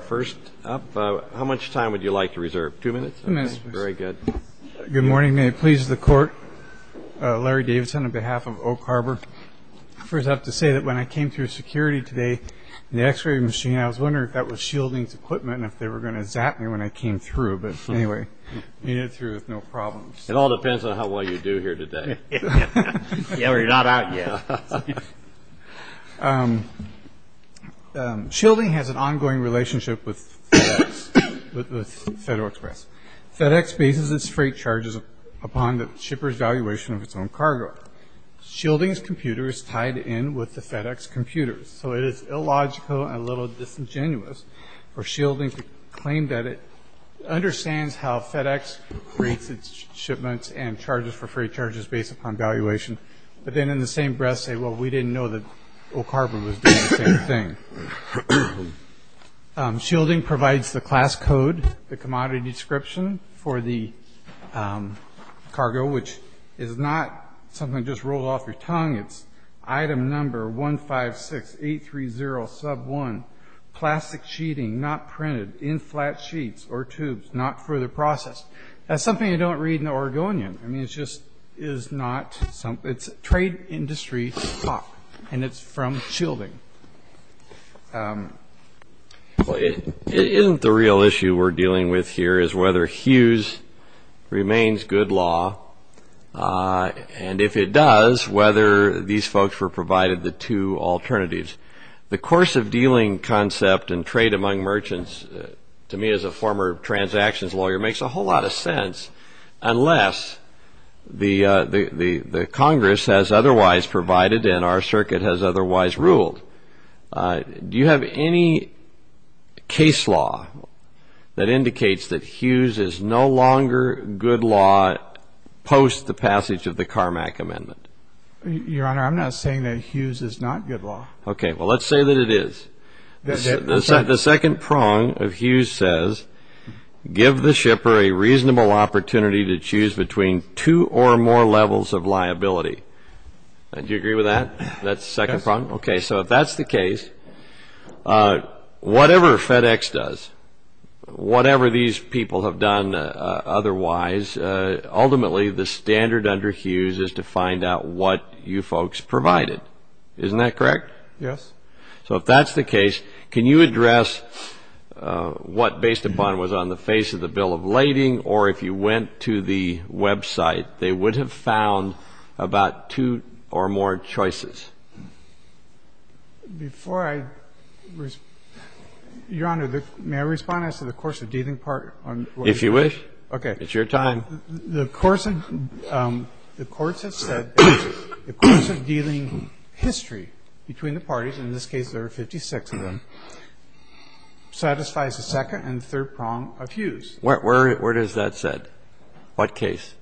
First up, how much time would you like to reserve? Two minutes? Very good. Good morning. May it please the Court, Larry Davidson on behalf of Oak Harbor. I first have to say that when I came through security today in the x-ray machine, I was wondering if that was Shielding's equipment and if they were going to zap me when I came through. But anyway, I made it through with no problems. It all depends on how well you do here today. Yeah, we're not out yet. Shielding has an ongoing relationship with FedEx, with Federal Express. FedEx bases its freight charges upon the shipper's valuation of its own cargo. Shielding's computer is tied in with the FedEx computer, so it is illogical and a little disingenuous for Shielding to claim that it understands how FedEx rates its shipments and charges for freight charges based upon valuation, but then in the same breath say, well, we didn't know that Oak Harbor was doing the same thing. Shielding provides the class code, the commodity description for the cargo, which is not something just rolled off your tongue. It's item number 156830 sub 1, plastic sheeting, not printed, in flat sheets or tubes, not further processed. That's something you don't read in the Oregonian. I mean, it's just is not something. It's trade industry talk, and it's from Shielding. Well, it isn't the real issue we're dealing with here is whether Hughes remains good law, and if it does, whether these folks were provided the two alternatives. The course of dealing concept and trade among merchants, to me as a former transactions lawyer, makes a whole lot of sense unless the Congress has otherwise provided and our circuit has otherwise ruled. Do you have any case law that indicates that Hughes is no longer good law post the passage of the Carmack Amendment? Your Honor, I'm not saying that Hughes is not good law. Okay. Well, let's say that it is. The second prong of Hughes says, give the shipper a reasonable opportunity to choose between two or more levels of liability. Do you agree with that? That's the second prong? Yes. Okay. So if that's the case, whatever FedEx does, whatever these people have done otherwise, ultimately the standard under Hughes is to find out what you folks provided. Isn't that correct? Yes. So if that's the case, can you address what, based upon what was on the face of the bill of lading, or if you went to the website, they would have found about two or more choices? Before I respond, Your Honor, may I respond as to the course of dealing part? If you wish. Okay. It's your time. The course of dealing history between the parties, in this case there are 56 of them, satisfies the second and third prong of Hughes. Where is that said? What case?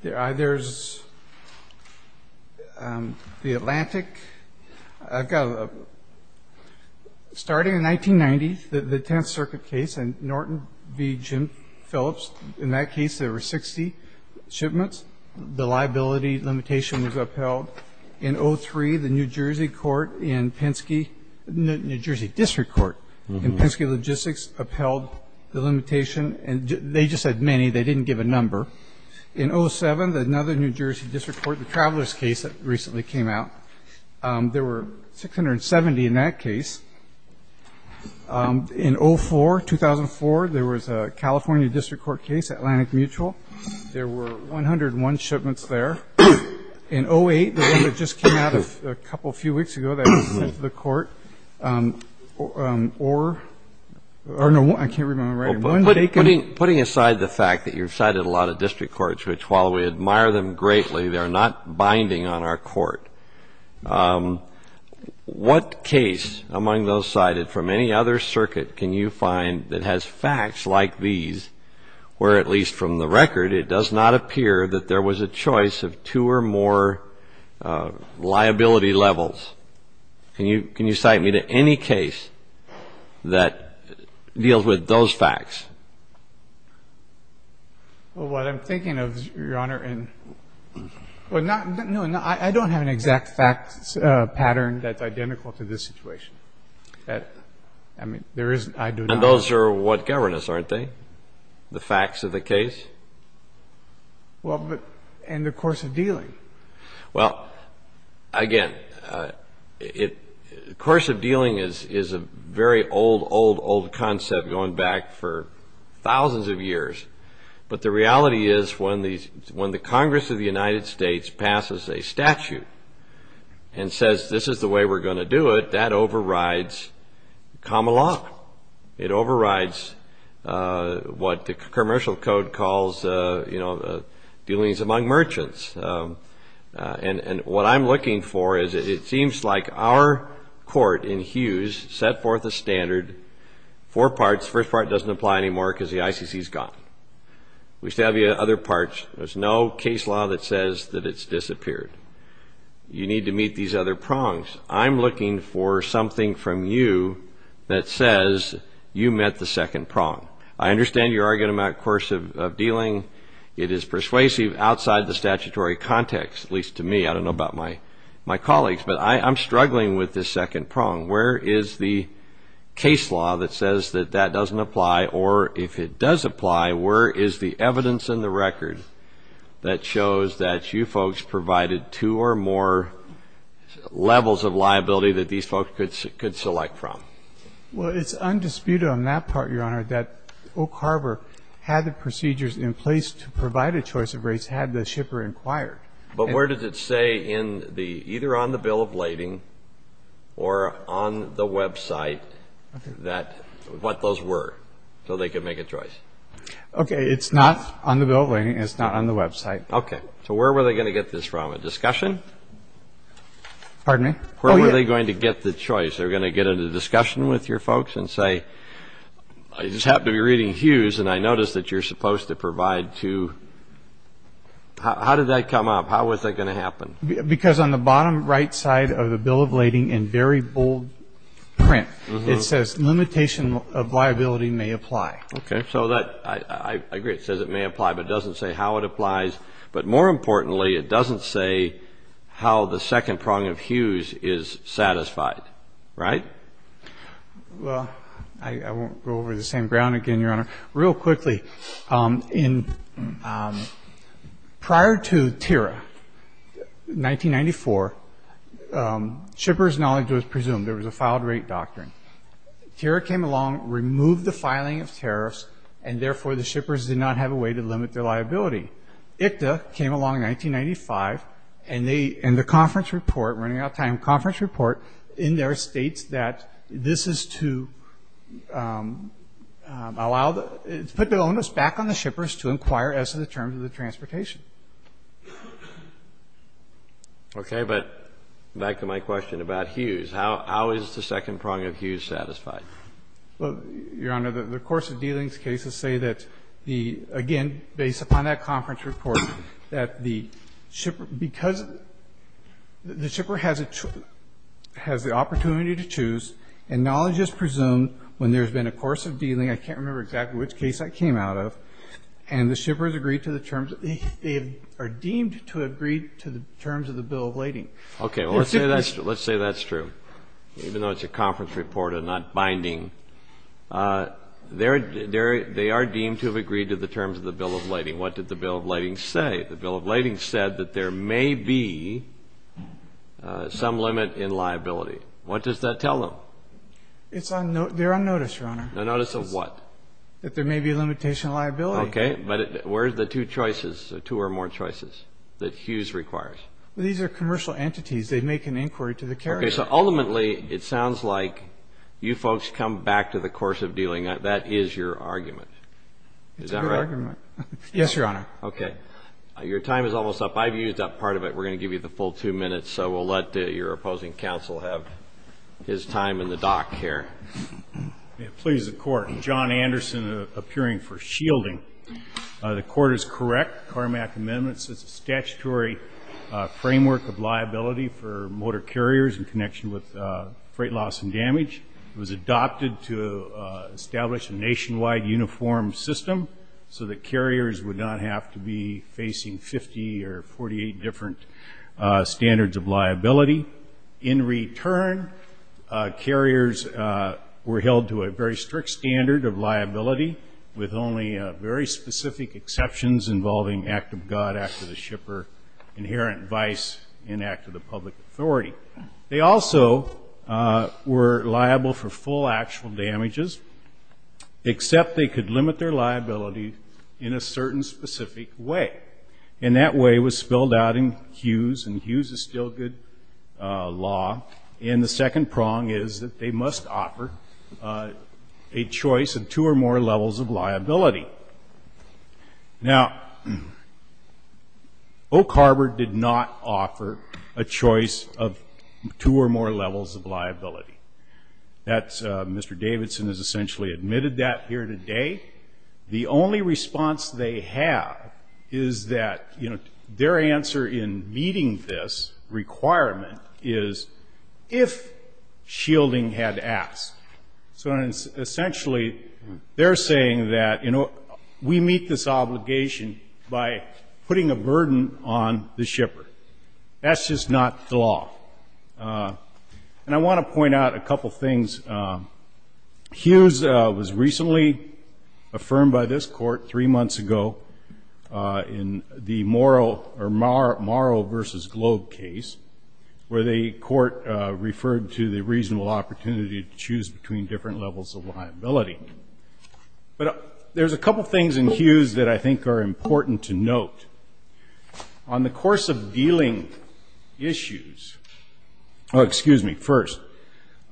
There's the Atlantic. I've got a starting in 1990, the Tenth Circuit case, and Norton v. Jim Phillips. In that case, there were 60 shipments. The liability limitation was upheld. In 03, the New Jersey District Court in Penske Logistics upheld the limitation. They just said many. They didn't give a number. In 07, another New Jersey District Court, the Travelers case that recently came out, there were 670 in that case. In 04, 2004, there was a California District Court case, Atlantic Mutual. There were 101 shipments there. In 08, the one that just came out a couple, a few weeks ago, that was sent to the court, or no, I can't remember. Putting aside the fact that you've cited a lot of district courts, which while we admire them greatly, they're not binding on our court, what case among those cited from any other circuit can you find that has facts like these where at least from the record it does not appear that there was a choice of two or more liability levels? Can you cite me to any case that deals with those facts? Well, what I'm thinking of, Your Honor, and no, I don't have an exact fact pattern that's identical to this situation. I mean, there is, I do not. And those are what govern us, aren't they? The facts of the case? Well, but, and the course of dealing. Well, again, the course of dealing is a very old, old, old concept going back for thousands of years. But the reality is when the Congress of the United States passes a statute and says this is the way we're going to do it, that overrides common law. It overrides what the commercial code calls, you know, dealings among merchants. And what I'm looking for is it seems like our court in Hughes set forth a standard, four parts. The first part doesn't apply anymore because the ICC is gone. We still have the other parts. There's no case law that says that it's disappeared. You need to meet these other prongs. I'm looking for something from you that says you met the second prong. I understand you're arguing about course of dealing. It is persuasive outside the statutory context, at least to me. I don't know about my colleagues. But I'm struggling with this second prong. Where is the case law that says that that doesn't apply, or if it does apply, where is the evidence in the record that shows that you folks provided two or more levels of liability that these folks could select from? Well, it's undisputed on that part, Your Honor, that Oak Harbor had the procedures in place to provide a choice of rates had the shipper inquired. But where does it say in the – either on the bill of lading or on the website that – what those were so they could make a choice? Okay. It's not on the bill of lading. It's not on the website. Okay. So where were they going to get this from, a discussion? Pardon me? Oh, yeah. Where were they going to get the choice? They were going to get into a discussion with your folks and say, I just happened to be reading Hughes and I noticed that you're supposed to provide two – how did that come up? How was that going to happen? Because on the bottom right side of the bill of lading in very bold print, it says limitation of liability may apply. Okay. So that – I agree. It says it may apply, but it doesn't say how it applies. But more importantly, it doesn't say how the second prong of Hughes is satisfied. Right? Well, I won't go over the same ground again, Your Honor. Real quickly, in – prior to TIRA, 1994, shippers' knowledge was presumed. There was a filed rate doctrine. TIRA came along, removed the filing of tariffs, and therefore the shippers did not have a way to limit their liability. ICTA came along in 1995, and the conference report – we're running out of time – conference report in there states that this is to allow the – put the onus back on the shippers to inquire as to the terms of the transportation. Okay. But back to my question about Hughes. How is the second prong of Hughes satisfied? Well, Your Honor, the course of dealings cases say that the – again, based upon that conference report, that the shipper – because the shipper has a – has the opportunity to choose, and knowledge is presumed when there's been a course of dealing – I can't remember exactly which case that came out of – and the shippers agree to the terms – they are deemed to agree to the terms of the bill of lading. Okay. Well, let's say that's true. Even though it's a conference report and not binding, they are deemed to have agreed to the terms of the bill of lading. What did the bill of lading say? The bill of lading said that there may be some limit in liability. What does that tell them? It's on – they're on notice, Your Honor. On notice of what? That there may be a limitation of liability. Okay. But where are the two choices, two or more choices, that Hughes requires? These are commercial entities. They make an inquiry to the carrier. Okay. So ultimately, it sounds like you folks come back to the course of dealing. That is your argument. Is that right? It's a good argument. Yes, Your Honor. Okay. Your time is almost up. I've used up part of it. We're going to give you the full two minutes, so we'll let your opposing counsel have his time in the dock here. Please, the Court. John Anderson, appearing for shielding. The Court is correct. It's a statutory framework of liability for motor carriers in connection with freight loss and damage. It was adopted to establish a nationwide uniform system so that carriers would not have to be facing 50 or 48 different standards of liability. In return, carriers were held to a very strict standard of liability with only very specific exceptions involving act of God, act of the shipper, inherent vice, and act of the public authority. They also were liable for full actual damages, except they could limit their liability in a certain specific way. And that way was spelled out in Hughes, and Hughes is still good law. And the second prong is that they must offer a choice of two or more levels of liability. Now, Oak Harbor did not offer a choice of two or more levels of liability. Mr. Davidson has essentially admitted that here today. The only response they have is that, you know, their answer in meeting this requirement is if shielding had asked. So essentially they're saying that, you know, we meet this obligation by putting a burden on the shipper. That's just not the law. And I want to point out a couple things. Hughes was recently affirmed by this court three months ago in the Morrow v. Globe case, where the court referred to the reasonable opportunity to choose between different levels of liability. But there's a couple things in Hughes that I think are important to note. On the course of dealing issues ‑‑ oh, excuse me, first.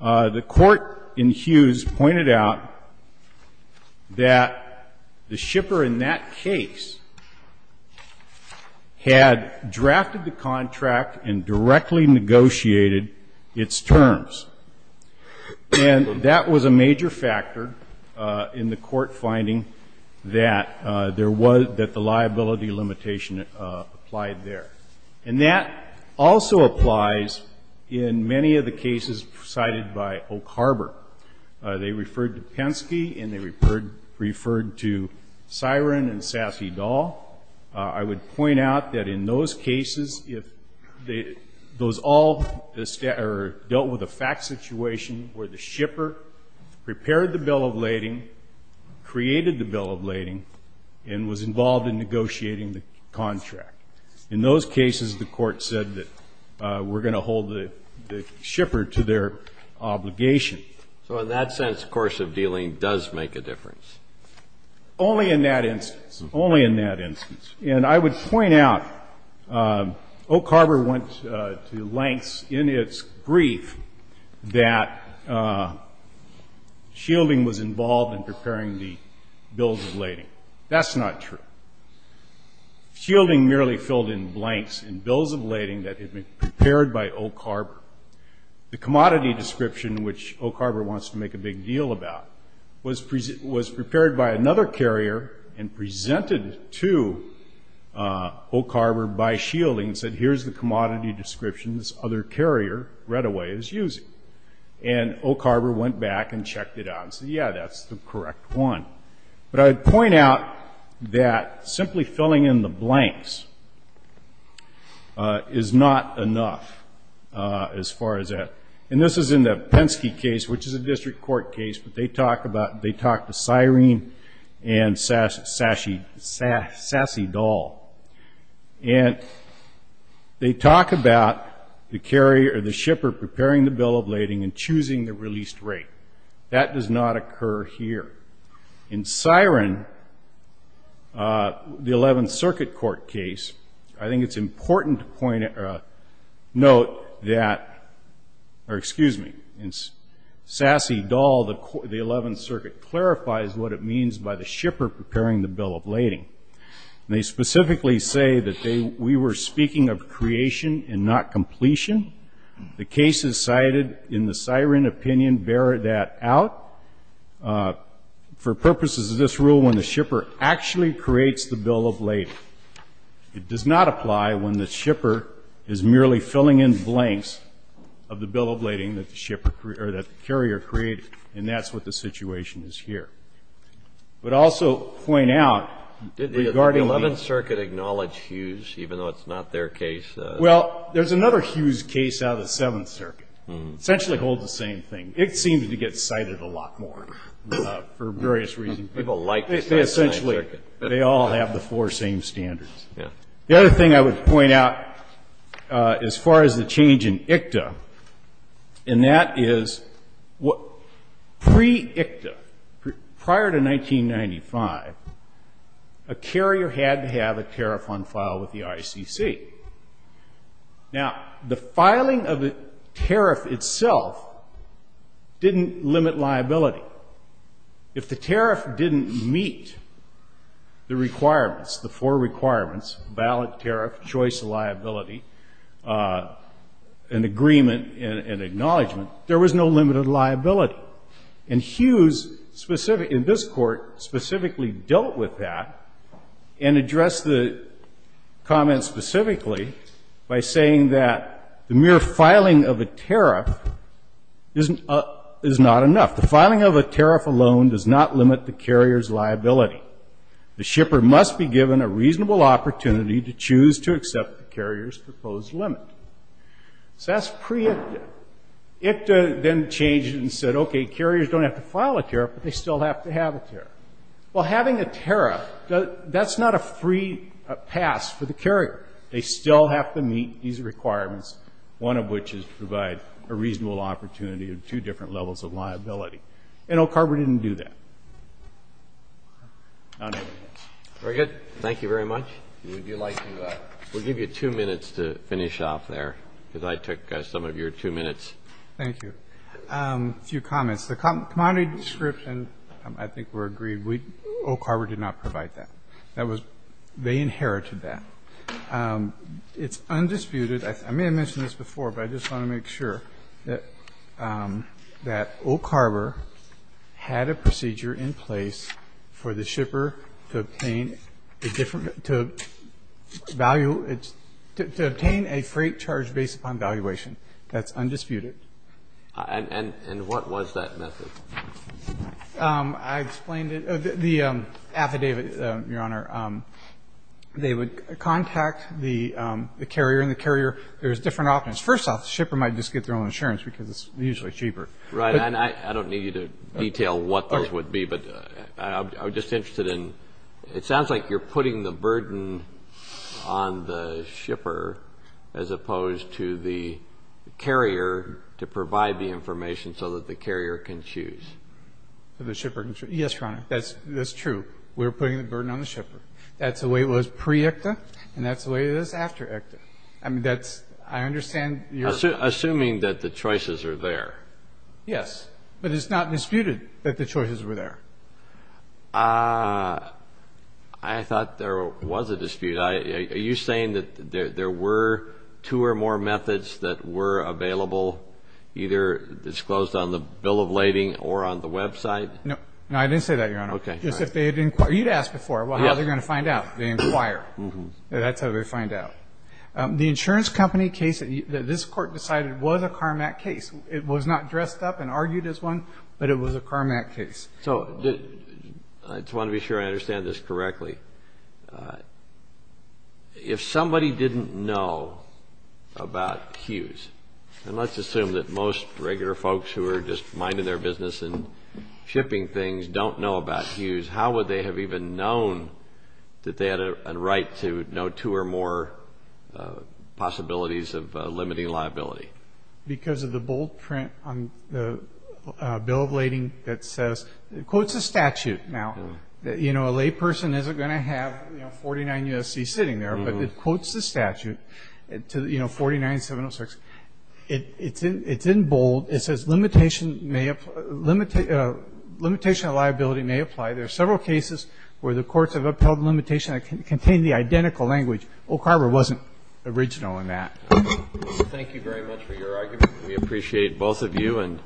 The court in Hughes pointed out that the shipper in that case had drafted the contract and directly negotiated its terms. And that was a major factor in the court finding that there was ‑‑ that the liability limitation applied there. And that also applies in many of the cases cited by Oak Harbor. They referred to Penske and they referred to Siren and Sassy Dahl. I would point out that in those cases, if those all dealt with a fact situation where the shipper prepared the bill of lading, created the bill of lading, and was involved in negotiating the contract. In those cases, the court said that we're going to hold the shipper to their obligation. So in that sense, the course of dealing does make a difference. Only in that instance, only in that instance. And I would point out Oak Harbor went to lengths in its brief that shielding was involved in preparing the bills of lading. That's not true. Shielding merely filled in blanks in bills of lading that had been prepared by Oak Harbor. The commodity description, which Oak Harbor wants to make a big deal about, was prepared by another carrier and presented to Oak Harbor by shielding and said, here's the commodity description this other carrier right away is using. And Oak Harbor went back and checked it out and said, yeah, that's the correct one. But I would point out that simply filling in the blanks is not enough as far as that. And this is in the Penske case, which is a district court case, but they talk about the siren and sassy doll. And they talk about the carrier or the shipper preparing the bill of lading and choosing the released rate. That does not occur here. In siren, the 11th Circuit Court case, I think it's important to point out or note that or excuse me, in sassy doll the 11th Circuit clarifies what it means by the shipper preparing the bill of lading. And they specifically say that we were speaking of creation and not completion. The case is cited in the siren opinion. Bear that out. For purposes of this rule, when the shipper actually creates the bill of lading, it does not apply when the shipper is merely filling in blanks of the bill of lading that the carrier created. And that's what the situation is here. But also point out regarding the 11th Circuit acknowledged Hughes, even though it's not their case. Well, there's another Hughes case out of the 7th Circuit. It essentially holds the same thing. It seems to get cited a lot more for various reasons. People like the 7th Circuit. They all have the four same standards. The other thing I would point out as far as the change in ICTA, and that is pre-ICTA, prior to 1995, a carrier had to have a tariff on file with the ICC. Now, the filing of the tariff itself didn't limit liability. If the tariff didn't meet the requirements, the four requirements, ballot, tariff, choice, liability, and agreement and acknowledgment, there was no limited liability. And Hughes, in this court, specifically dealt with that and addressed the comment specifically by saying that the mere filing of a tariff is not enough. The filing of a tariff alone does not limit the carrier's liability. The shipper must be given a reasonable opportunity to choose to accept the carrier's proposed limit. So that's pre-ICTA. ICTA then changed and said, okay, carriers don't have to file a tariff, but they still have to have a tariff. Well, having a tariff, that's not a free pass for the carrier. They still have to meet these requirements, one of which is to provide a reasonable opportunity of two different levels of liability. And OCARB didn't do that. Very good. Thank you very much. We'll give you two minutes to finish off there because I took some of your two minutes. Thank you. A few comments. The commodity description, I think we're agreed, OCARB did not provide that. They inherited that. It's undisputed. I may have mentioned this before, but I just want to make sure that OCARB had a procedure in place for the shipper to obtain a freight charge based upon valuation. That's undisputed. And what was that method? The affidavit, Your Honor, they would contact the carrier, and the carrier, there's different options. First off, the shipper might just get their own insurance because it's usually cheaper. Right. And I don't need you to detail what those would be, but I'm just interested in, it sounds like you're putting the burden on the shipper as opposed to the carrier to provide the information so that the carrier can choose. So the shipper can choose. Yes, Your Honor, that's true. We're putting the burden on the shipper. That's the way it was pre-ECTA, and that's the way it is after ECTA. I mean, that's, I understand you're Assuming that the choices are there. Yes. But it's not disputed that the choices were there. I thought there was a dispute. Are you saying that there were two or more methods that were available, either disclosed on the bill of lading or on the website? No, I didn't say that, Your Honor. Okay. You'd asked before how they're going to find out. They inquire. That's how they find out. The insurance company case that this Court decided was a CARMAC case. It was not dressed up and argued as one, but it was a CARMAC case. So I just want to be sure I understand this correctly. If somebody didn't know about Hughes, and let's assume that most regular folks who are just minding their business and shipping things don't know about Hughes, how would they have even known that they had a right to know two or more possibilities of limiting liability? Because of the bold print on the bill of lading that says, it quotes a statute now that, you know, a layperson isn't going to have 49 U.S.C. sitting there, but it quotes the statute to, you know, 49706. It's in bold. It says limitation of liability may apply. There are several cases where the courts have upheld limitation that contain the identical language. Oak Harbor wasn't original in that. Thank you very much for your argument. We appreciate both of you, and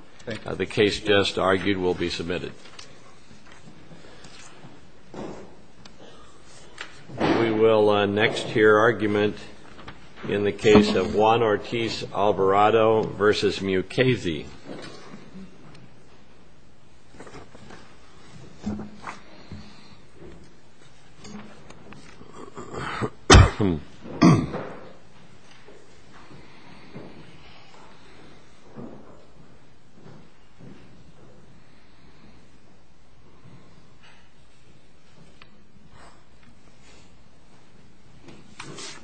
the case just argued will be submitted. We will next hear argument in the case of Juan Ortiz-Alvarado v. Mukasey. Thank you.